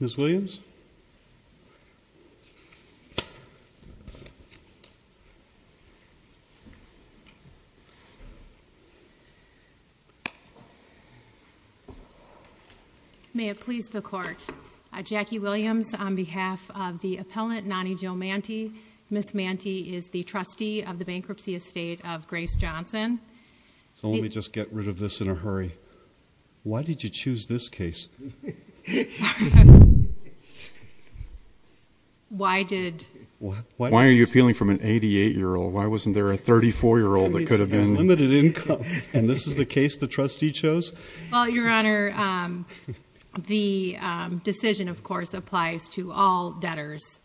Ms. Williams May it please the court Jackie Williams on behalf of the appellant Nani Jo Manty Ms. Manty is the trustee of the bankruptcy estate of Grace Johnson So let me just get rid of this in a hurry Why did you choose this case? Why are you appealing from an 88-year-old? Why wasn't there a 34-year-old that could have been? It's limited income And this is the case the trustee chose? Well your honor, the decision of course applies to all debtors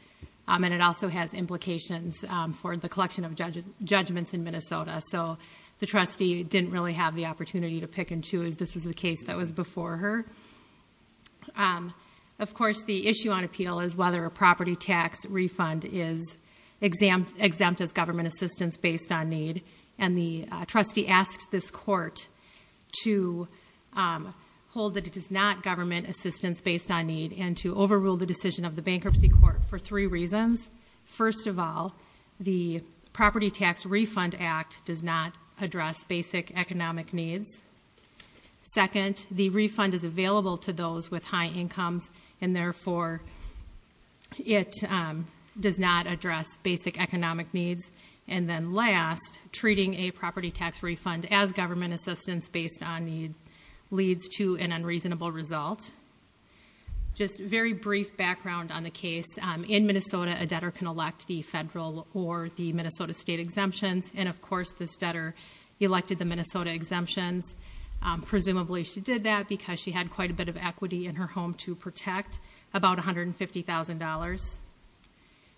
And it also has implications for the collection of judgments in Minnesota So the trustee didn't really have the opportunity to pick and choose This was the case that was before her Of course the issue on appeal is whether a property tax refund is exempt as government assistance based on need And the trustee asked this court to hold that it is not government assistance based on need And to overrule the decision of the bankruptcy court for three reasons First of all, the property tax refund act does not address basic economic needs Second, the refund is available to those with high incomes And therefore it does not address basic economic needs And then last, treating a property tax refund as government assistance based on need Leads to an unreasonable result Just very brief background on the case In Minnesota a debtor can elect the federal or the Minnesota state exemptions And of course this debtor elected the Minnesota exemptions Presumably she did that because she had quite a bit of equity in her home to protect About $150,000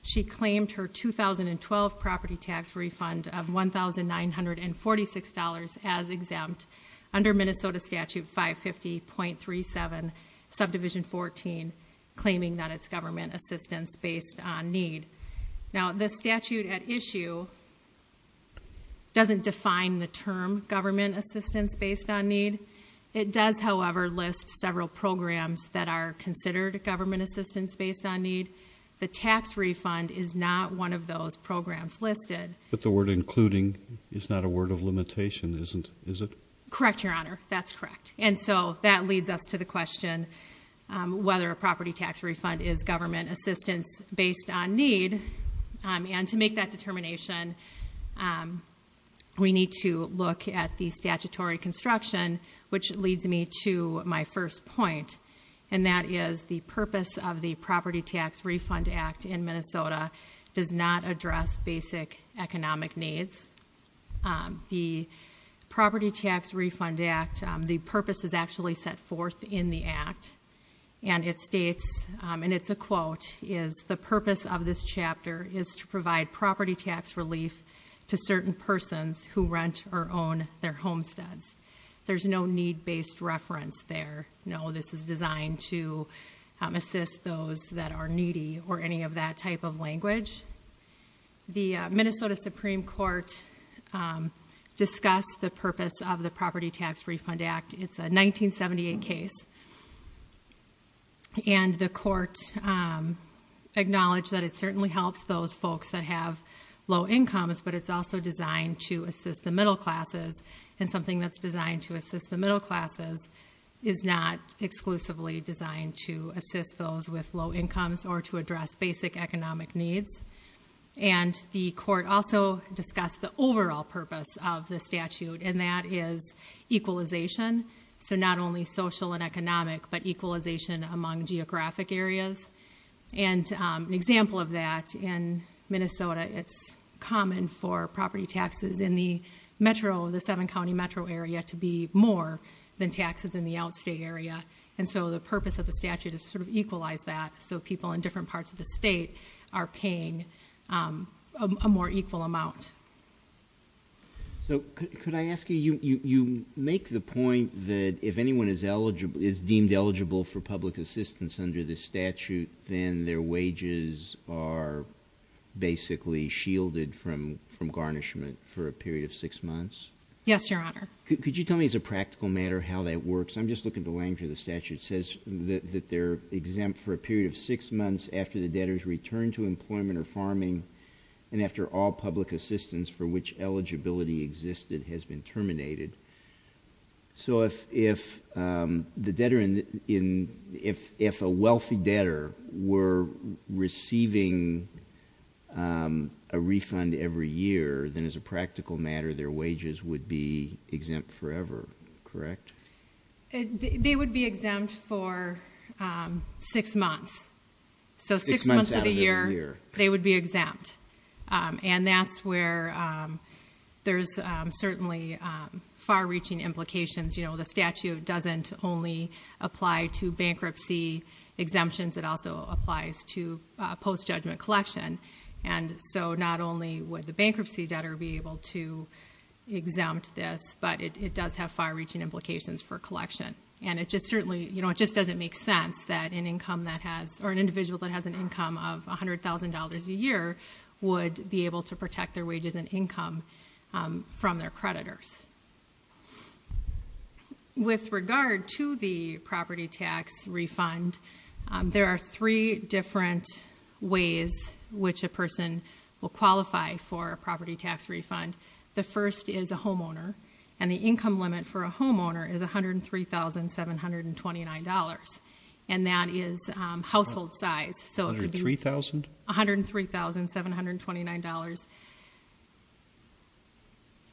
She claimed her 2012 property tax refund of $1,946 as exempt Under Minnesota statute 550.37 subdivision 14 Claiming that it's government assistance based on need Now the statute at issue doesn't define the term government assistance based on need It does however list several programs that are considered government assistance based on need The tax refund is not one of those programs listed But the word including is not a word of limitation is it? Correct your honor, that's correct And so that leads us to the question Whether a property tax refund is government assistance based on need And to make that determination We need to look at the statutory construction Which leads me to my first point And that is the purpose of the property tax refund act in Minnesota Does not address basic economic needs The property tax refund act The purpose is actually set forth in the act And it states and it's a quote Is the purpose of this chapter is to provide property tax relief To certain persons who rent or own their homesteads There's no need based reference there No this is designed to assist those that are needy Or any of that type of language The Minnesota Supreme Court Discussed the purpose of the property tax refund act It's a 1978 case And the court Acknowledged that it certainly helps those folks that have Low incomes but it's also designed to assist the middle classes And something that's designed to assist the middle classes Is not exclusively designed to assist those with low incomes Or to address basic economic needs And the court also discussed the overall purpose of the statute And that is equalization So not only social and economic But equalization among geographic areas And an example of that in Minnesota It's common for property taxes in the metro The seven county metro area to be more Than taxes in the outstay area And so the purpose of the statute is to equalize that So people in different parts of the state are paying A more equal amount So could I ask you You make the point that if anyone is deemed eligible For public assistance under the statute Then their wages are Basically shielded from garnishment For a period of six months Yes, your honor Could you tell me as a practical matter how that works I'm just looking at the language of the statute It says that they're exempt for a period of six months After the debtors return to employment or farming And after all public assistance for which eligibility existed Has been terminated So if the debtor If a wealthy debtor were receiving A refund every year then as a practical matter Their wages would be exempt forever, correct? They would be exempt For six months So six months of the year they would be exempt And that's where There's certainly far reaching implications You know the statute doesn't only Apply to bankruptcy exemptions It also applies to post judgment collection And so not only would the bankruptcy debtor Be able to exempt this But it does have far reaching implications for collection And it just certainly doesn't make sense That an individual that has an income of $100,000 a year Would be able to protect their wages and income From their creditors With regard to the There are three different ways Which a person will qualify for a property tax refund The first is a homeowner And the income limit for a homeowner is $103,729 And that is Household size $103,729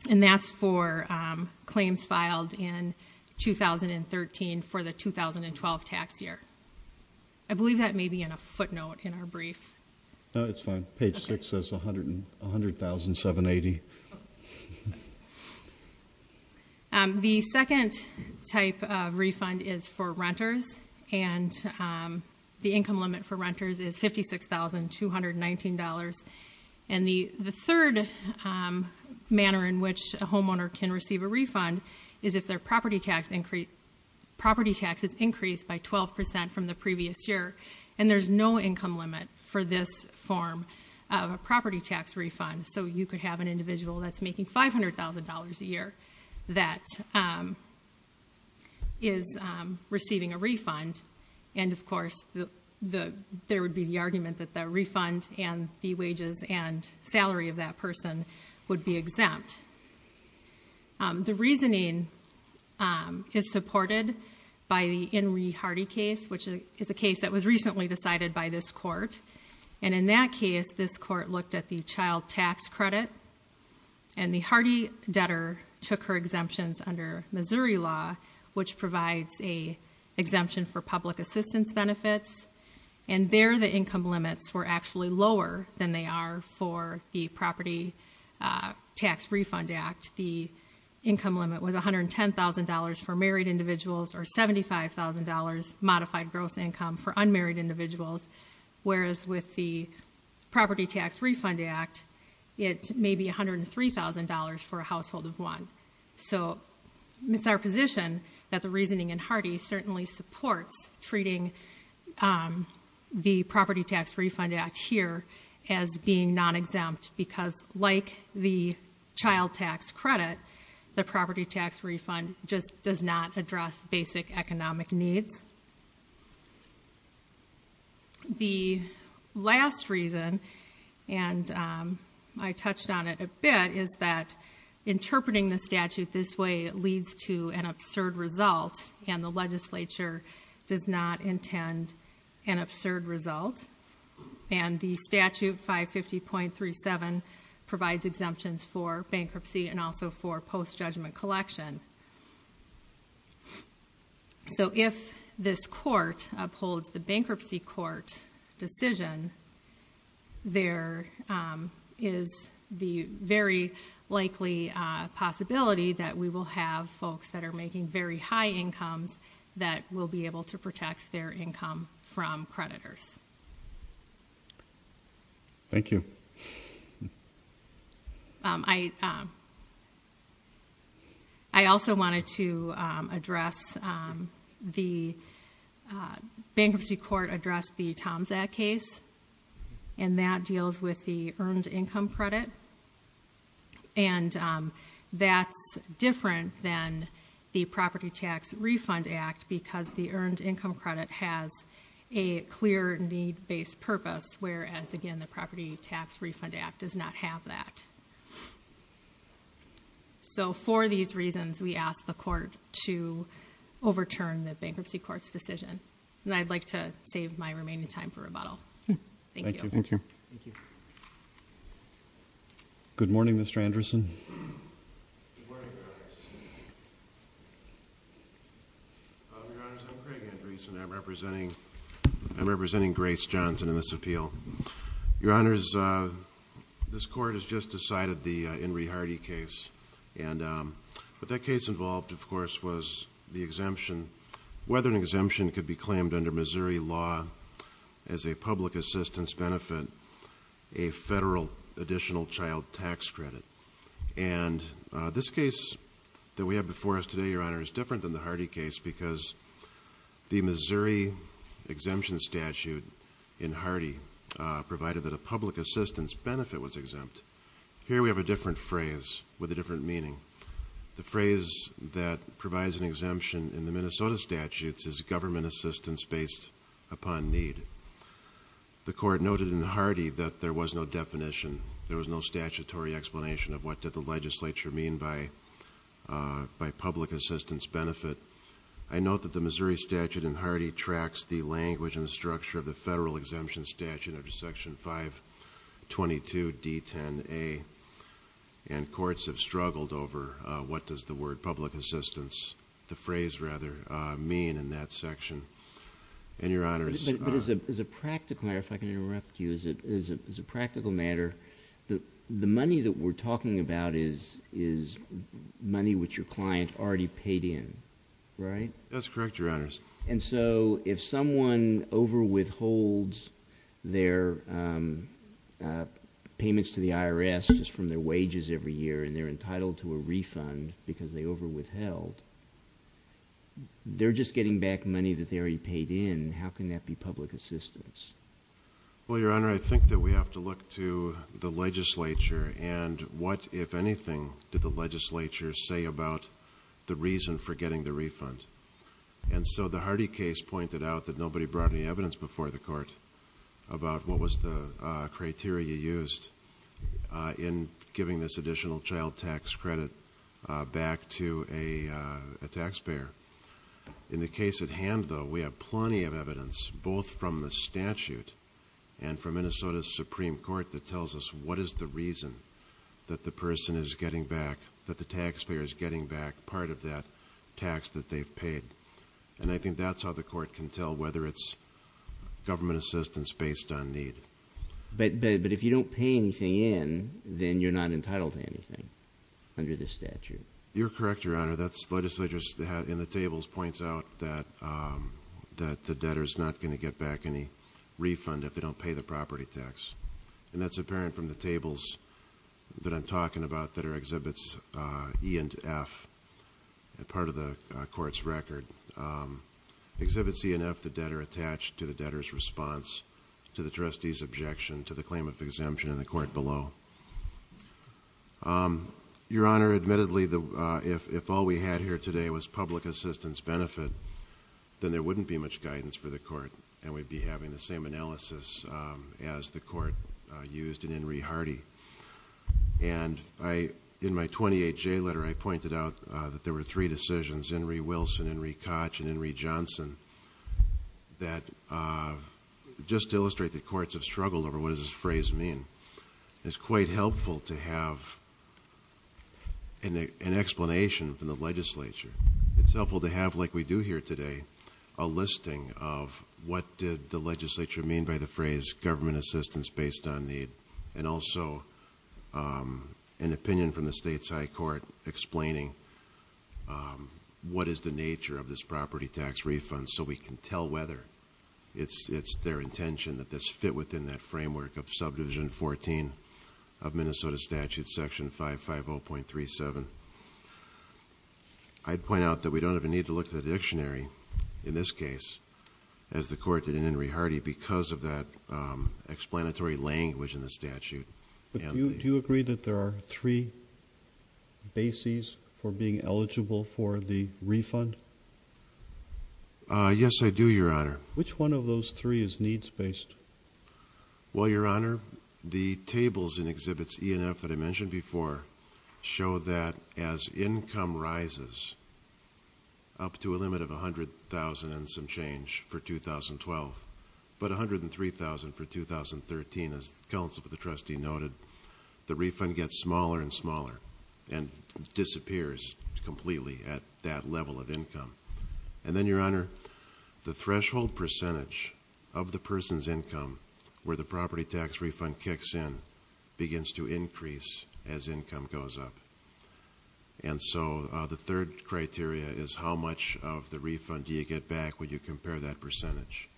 And that's for Claims filed in 2013 For the 2012 tax year I believe that may be in a footnote in our brief The second type of refund Is for renters And the income limit for renters is $56,219 And the third Manner in which a homeowner can receive a refund Is if their property tax Is increased by 12% from the previous year And there's no income limit for this form Of a property tax refund So you could have an individual that's making $500,000 a year That is Receiving a refund And of course there would be the argument that the refund And the wages and salary of that person Would be exempt The reasoning is supported By the Henry Hardy case Which is a case that was recently decided by this court And in that case this court looked at the child tax credit And the Hardy debtor took her exemptions Under Missouri law Which provides an exemption for public assistance benefits And there the income limits were actually lower Than they are for the property tax refund act The income limit was $110,000 For married individuals Or $75,000 modified gross income for unmarried individuals Whereas with the property tax refund act It may be $103,000 For a household of one So it's our position that the reasoning in Hardy Certainly supports treating The property tax refund act here As being non-exempt Because like the child tax credit The property tax refund just does not address Basic economic needs The last reason And I touched on it a bit Is that interpreting the statute this way Leads to an absurd result And the legislature does not intend An absurd result And the statute 550.37 Provides exemptions for bankruptcy And also for post judgment collection So if this court Upholds the bankruptcy court decision There is the Very likely possibility That we will have folks that are making very high incomes That will be able to protect their income From creditors Thank you I I also wanted to address The bankruptcy court Addressed the Tom's Act case And that deals with the earned income credit And that's Different than the property tax refund Act because the earned income credit has A clear need based purpose Whereas again the property tax refund act does not have that So for These reasons we ask the court to Overturn the bankruptcy court's decision And I'd like to save my remaining time for rebuttal Thank you Good morning Mr. Anderson Good morning I'm representing Grace Johnson in this appeal Your honors This court has just decided the Henry Hardy case But that case involved of course was The exemption Whether an exemption could be claimed under Missouri law As a public assistance benefit A federal additional child tax credit And this case That we have before us today your honors is different than the Hardy case Because the Missouri Exemption statute in Hardy Provided that a public assistance benefit was exempt Here we have a different phrase with a different meaning The phrase that provides an exemption In the Minnesota statutes is government assistance based Upon need The court noted in Hardy that there was no definition There was no statutory explanation of what did the legislature mean By public assistance benefit I note that the Missouri statute in Hardy Tracks the language and structure of the federal exemption statute Under section 522 D10A And courts have struggled over What does the word public assistance The phrase rather mean in that section And your honors As a practical matter The money that we're talking about is Money which your client already paid in That's correct your honors And so if someone over withholds Their payments to the IRS Just from their wages every year and they're entitled to a refund Because they over withheld They're just getting back money that they already paid in How can that be public assistance Well your honor I think that we have to look to the legislature And what if anything did the legislature Say about the reason for getting the refund And so the Hardy case pointed out That nobody brought any evidence before the court About what was the criteria you used In giving this additional child tax credit Back to a taxpayer In the case at hand though we have plenty of evidence Both from the statute And from Minnesota's Supreme Court that tells us What is the reason that the person is getting back That the taxpayer is getting back part of that tax That they've paid and I think that's how the court can tell Whether it's government assistance based on need But if you don't pay anything in Then you're not entitled to anything under the statute You're correct your honor that's Legislators in the tables points out that The debtor is not going to get back any refund If they don't pay the property tax And that's apparent from the tables that I'm talking about That are exhibits E and F And part of the court's record Exhibits E and F the debtor attached to the debtor's response To the trustee's objection to the claim of exemption In the court below Your honor admittedly if all we had here today Was public assistance benefit Then there wouldn't be much guidance for the court And we'd be having the same analysis as the court Used in Henry Hardy And in my 28J letter I pointed out That there were three decisions Henry Wilson, Henry Koch And Henry Johnson Just to illustrate that courts have struggled over what does this phrase mean It's quite helpful to have An explanation from the legislature It's helpful to have like we do here today A listing of what did the legislature mean By the phrase government assistance based on need And also an opinion from the states high court Explaining What is the nature of this property tax refund So we can tell whether it's their intention That this fit within that framework of subdivision 14 Of Minnesota statute section 550.37 That we don't even need to look at the dictionary In this case as the court did in Henry Hardy Because of that explanatory language in the statute Do you agree that there are Three bases for being eligible For the refund Yes I do your honor Which one of those three is needs based Well your honor the tables and exhibits ENF that I mentioned before Show that as income rises Up to a limit of $100,000 and some change for 2012 But $103,000 for 2013 As counsel for the trustee noted The refund gets smaller and smaller And disappears completely at that level of income And then your honor the threshold percentage Of the person's income Where the property tax refund kicks in Begins to increase as income goes up And so the third criteria is How much of the refund do you get back When you compare that percentage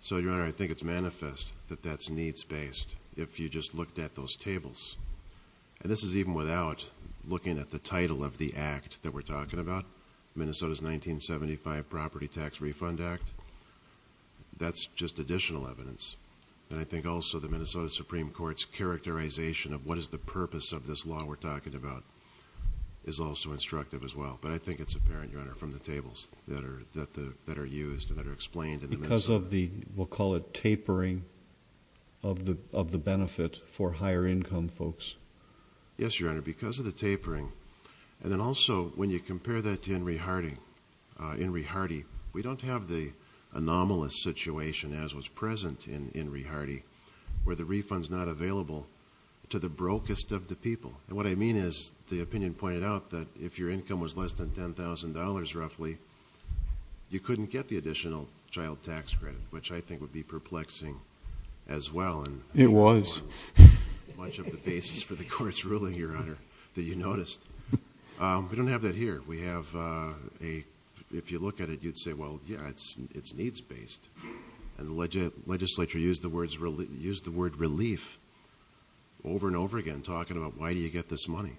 So your honor I think it's manifest that that's needs based If you just looked at those tables And this is even without looking at the title of the act That we're talking about Minnesota's 1975 property tax refund act That's just additional evidence And I think also the Minnesota Supreme Court's characterization Of what is the purpose of this law we're talking about Is also instructive as well But I think it's apparent your honor from the tables That are used and that are explained Because of the we'll call it tapering Of the benefit for higher income folks Yes your honor because of the tapering And then also when you compare that to Henry Hardy We don't have the anomalous situation As was present in Henry Hardy Where the refund's not available to the brokest of the people And what I mean is the opinion pointed out That if your income was less than $10,000 roughly You couldn't get the additional child tax credit Which I think would be perplexing as well It was Much of the basis for the court's ruling your honor That you noticed We don't have that here If you look at it you'd say well yeah it's needs based And the legislature used the word relief Over and over again talking about why do you get this money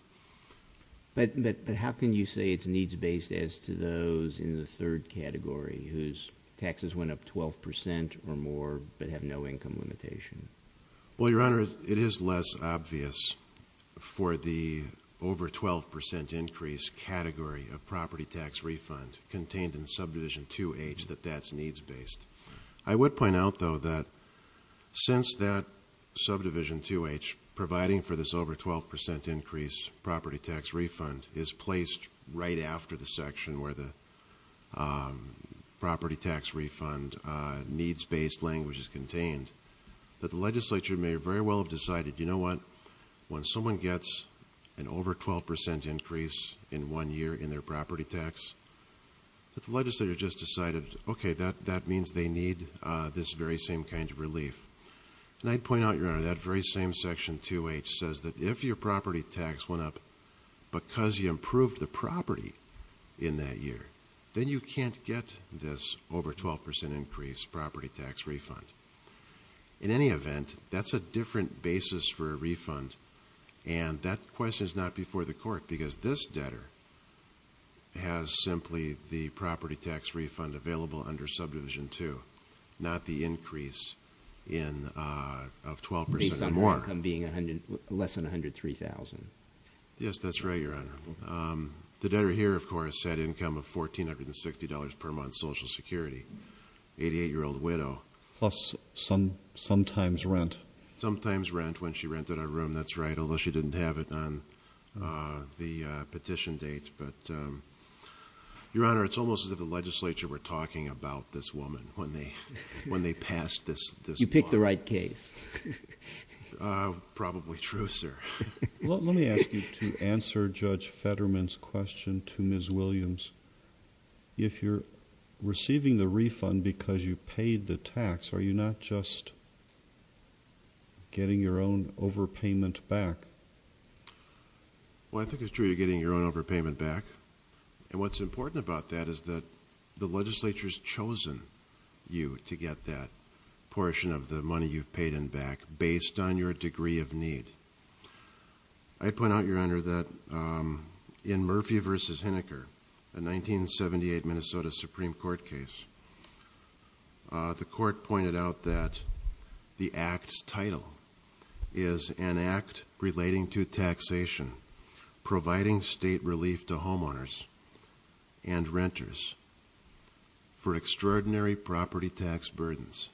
But how can you say it's needs based As to those in the third category Whose taxes went up 12% or more But have no income limitation Well your honor it is less obvious For the over 12% increase Category of property tax refund Contained in subdivision 2H that that's needs based I would point out though that since that Subdivision 2H providing for this over 12% increase Property tax refund is placed Right after the section where the Property tax refund Needs based language is contained That the legislature may very well have decided you know what When someone gets an over 12% increase In one year in their property tax That the legislature just decided okay that means They need this very same kind of relief And I'd point out your honor that very same section 2H Says that if your property tax went up Because you improved the property in that year Then you can't get this over 12% Increase property tax refund In any event that's a different basis for a refund And that question is not before the court Because this debtor has simply The property tax refund available under subdivision 2H Not the increase in Of 12% or more Less than $103,000 Yes that's right your honor The debtor here of course had income of $1460 per month Social security 88 year old widow Plus sometimes rent Sometimes rent when she rented a room that's right Unless she didn't have it on the petition date But your honor it's almost as if the legislature Were talking about this woman when they Passed this law You picked the right case Probably true sir Well let me ask you to answer Judge Fetterman's question To Ms. Williams If you're receiving the refund because you paid the tax Are you not just Getting your own overpayment back Well I think it's true you're getting your own overpayment back And what's important about that is that The legislature's chosen you to get that Portion of the money you've paid in back Based on your degree of need I'd point out your honor that in Murphy v. Hineker A 1978 Minnesota Supreme Court case The court pointed out that The act's title Is an act relating to taxation Providing state relief to homeowners And renters For extraordinary property tax burdens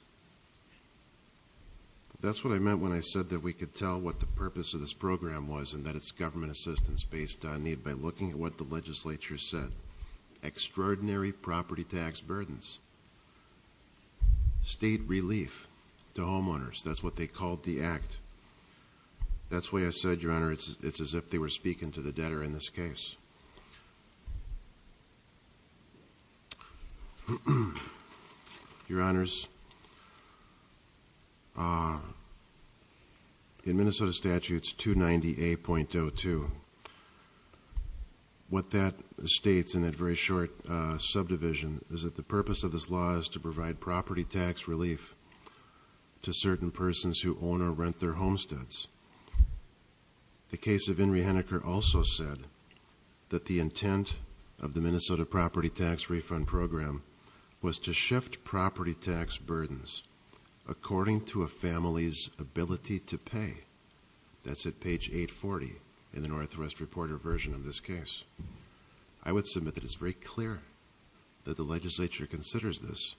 That's what I meant when I said That we could tell what the purpose of this program was And that it's government assistance based on need By looking at what the legislature said Extraordinary property tax burdens State relief to homeowners that's what they called the act That's why I said your honor It's as if they were speaking to the debtor in this case Your honors In Minnesota statutes 290A.02 What that states in that very short Subdivision is that the purpose of this law is to provide Property tax relief to certain Persons who own or rent their homesteads The case of Henry Hineker also said That the intent of the Minnesota property tax refund program Was to shift property tax burdens According to a family's ability to pay That's at page 840 In the Northwest Reporter version of this case I would submit that it's very clear That the legislature considers this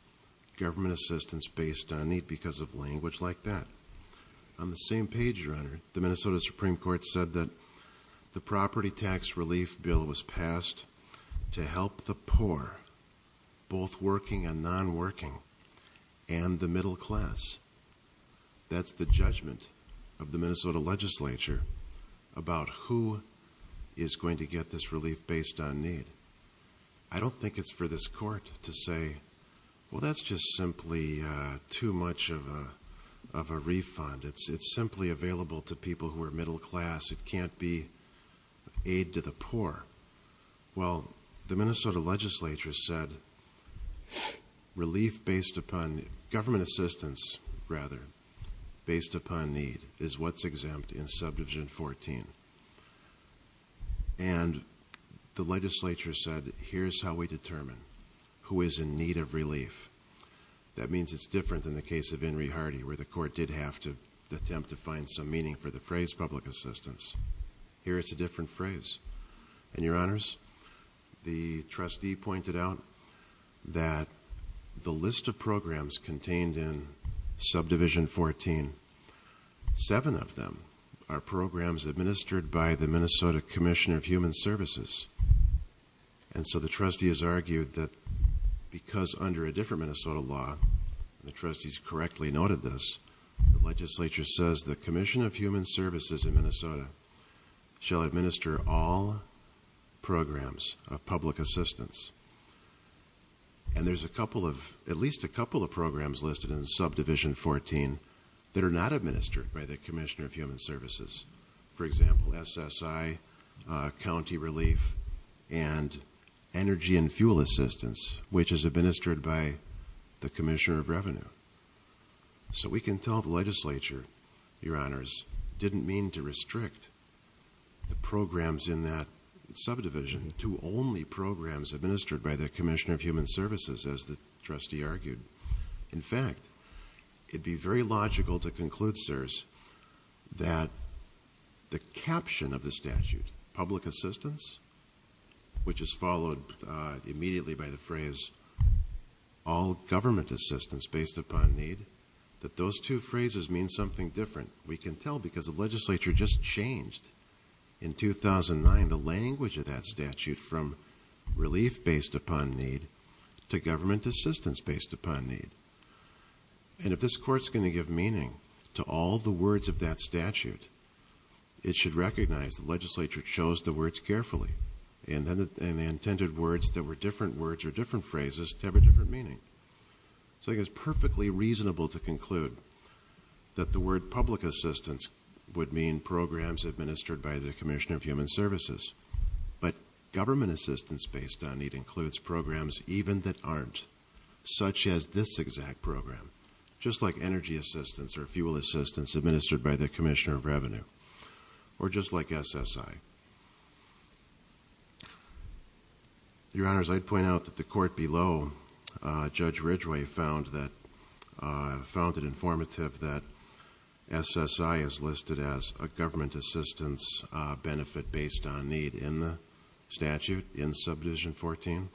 government assistance Based on need because of language like that On the same page your honor The Minnesota Supreme Court said that the property tax relief bill Was passed to help the poor Both working and non-working And the middle class That's the judgment of the Minnesota legislature About who is going to get this relief Based on need I don't think it's for this court to say Well that's just simply too much Of a refund It's simply available to people who are middle class It can't be aid to the poor Well the Minnesota legislature said Government assistance Based upon need Is what's exempt in subdivision 14 And the legislature said Here's how we determine who is in need of relief That means it's different than the case of Henry Hardy Where the court did have to attempt to find some meaning For the phrase public assistance Here it's a different phrase And your honors the trustee pointed out That the list of programs contained in subdivision 14 Seven of them Are programs administered by the Minnesota Commissioner of Human Services And so the trustee has argued that Because under a different Minnesota law The trustee's correctly noted this The legislature says the Commissioner of Human Services In Minnesota shall administer all Programs of public assistance And there's at least a couple of programs Listed in subdivision 14 That are not administered by the Commissioner of Human Services For example SSI County relief And energy and fuel assistance Which is administered by the Commissioner of Revenue So we can tell the legislature Didn't mean to restrict The programs in that subdivision To only programs administered by the Commissioner of Human Services As the trustee argued In fact it'd be very logical to conclude sirs That the caption of the statute Public assistance Which is followed immediately by the phrase All government assistance based upon need That those two phrases mean something different We can tell because the legislature just changed In 2009 the language of that statute From relief based upon need To government assistance based upon need And if this court's going to give meaning To all the words of that statute It should recognize the legislature chose the words carefully And the intended words that were different words Or different phrases to have a different meaning So I think it's perfectly reasonable to conclude That the word public assistance would mean Programs administered by the Commissioner of Human Services But government assistance based upon need Includes programs even that aren't Such as this exact program Just like energy assistance or fuel assistance Administered by the Commissioner of Revenue Or just like SSI Your honors I'd point out that the court below Judge Ridgway found that Found it informative that SSI Is listed as a government assistance benefit Based on need in the statute in Subdivision 14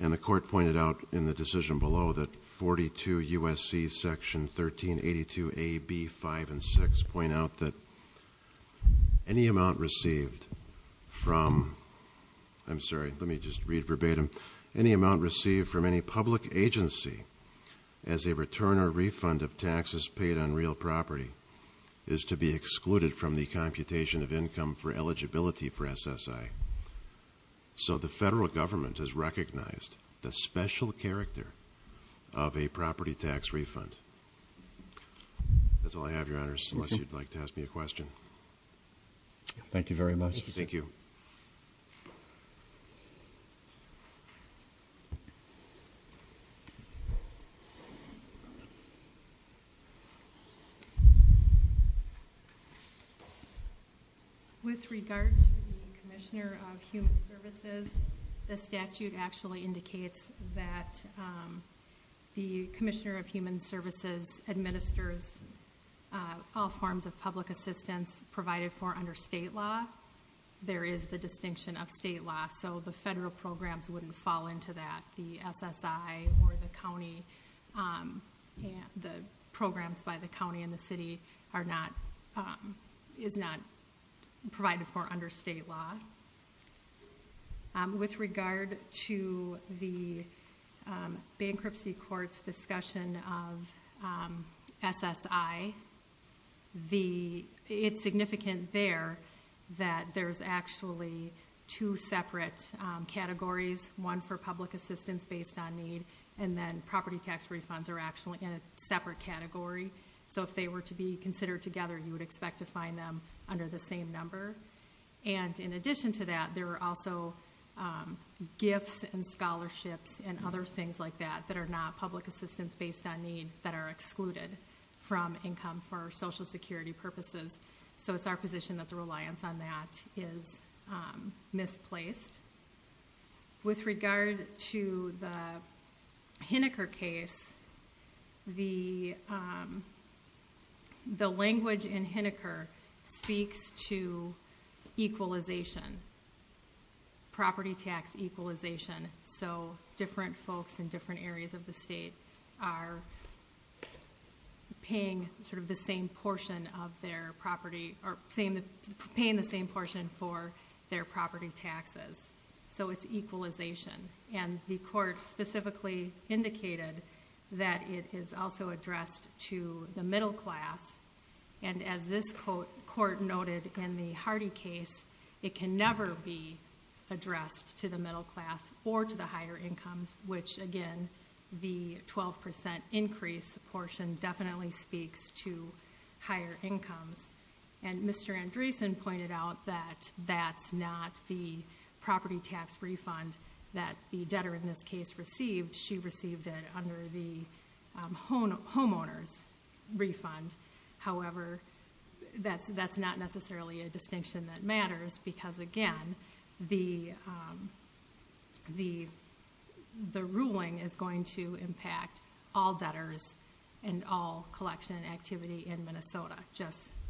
and the court Pointed out in the decision below that 42 USC section 1382 AB 5 and 6 Point out that any amount Received from I'm sorry let me just read verbatim any amount Received from any public agency As a return or refund of taxes paid on real property Is to be excluded from the computation Of income for eligibility for SSI So the federal government has recognized The special character of a property tax Refund That's all I have your honors unless you'd like to ask me a question Thank you very much With With With With regard to the Commissioner of Human Services The statute actually indicates That the Commissioner of Human Services Administers All forms of public assistance provided for under state law There is the distinction of state law So the federal programs wouldn't fall into that The SSI or the county The programs by the county and the city Are not Provided for under state law With regard to the Bankruptcy courts discussion Of SSI It's significant there That there's actually Two separate categories One for public assistance based on need And then property tax refunds are actually in a separate category So if they were to be considered together You would expect to find them under the same number And in addition to that there are also Gifts and scholarships and other things like that That are not public assistance based on need That are excluded from income for social security purposes So it's our position that the reliance on that Is misplaced With regard to the Hineker case The The language in Hineker speaks to Equalization Property tax equalization So different folks in different areas of the state Are Paying sort of the same portion of their property Or paying the same portion for Their property taxes So it's equalization And the court specifically indicated That it is also addressed to the middle class And as this court noted in the Hardy case It can never be addressed to the middle class Or to the higher incomes Which again the 12% increase portion Definitely speaks to higher incomes And Mr. Andresen pointed out that That's not the property tax refund That the debtor in this case received She received it under the homeowners Refund However that's not necessarily A distinction that matters Because again The ruling is going to impact All debtors and all collection activity In Minnesota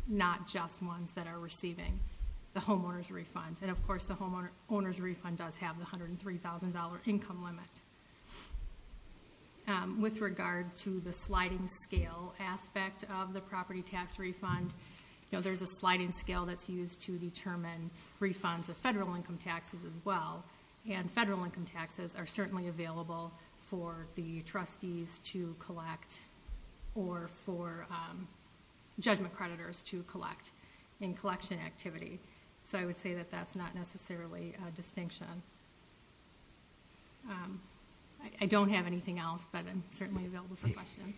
Not just ones that are receiving the homeowners refund And of course the homeowners refund does have The $103,000 income limit With regard to the sliding scale Aspect of the property tax refund There's a sliding scale that's used to determine Refunds of federal income taxes as well And federal income taxes are certainly available For the trustees to collect Or for judgment creditors to collect In collection activity So I would say that that's not necessarily a distinction I don't have anything else But I'm certainly available for questions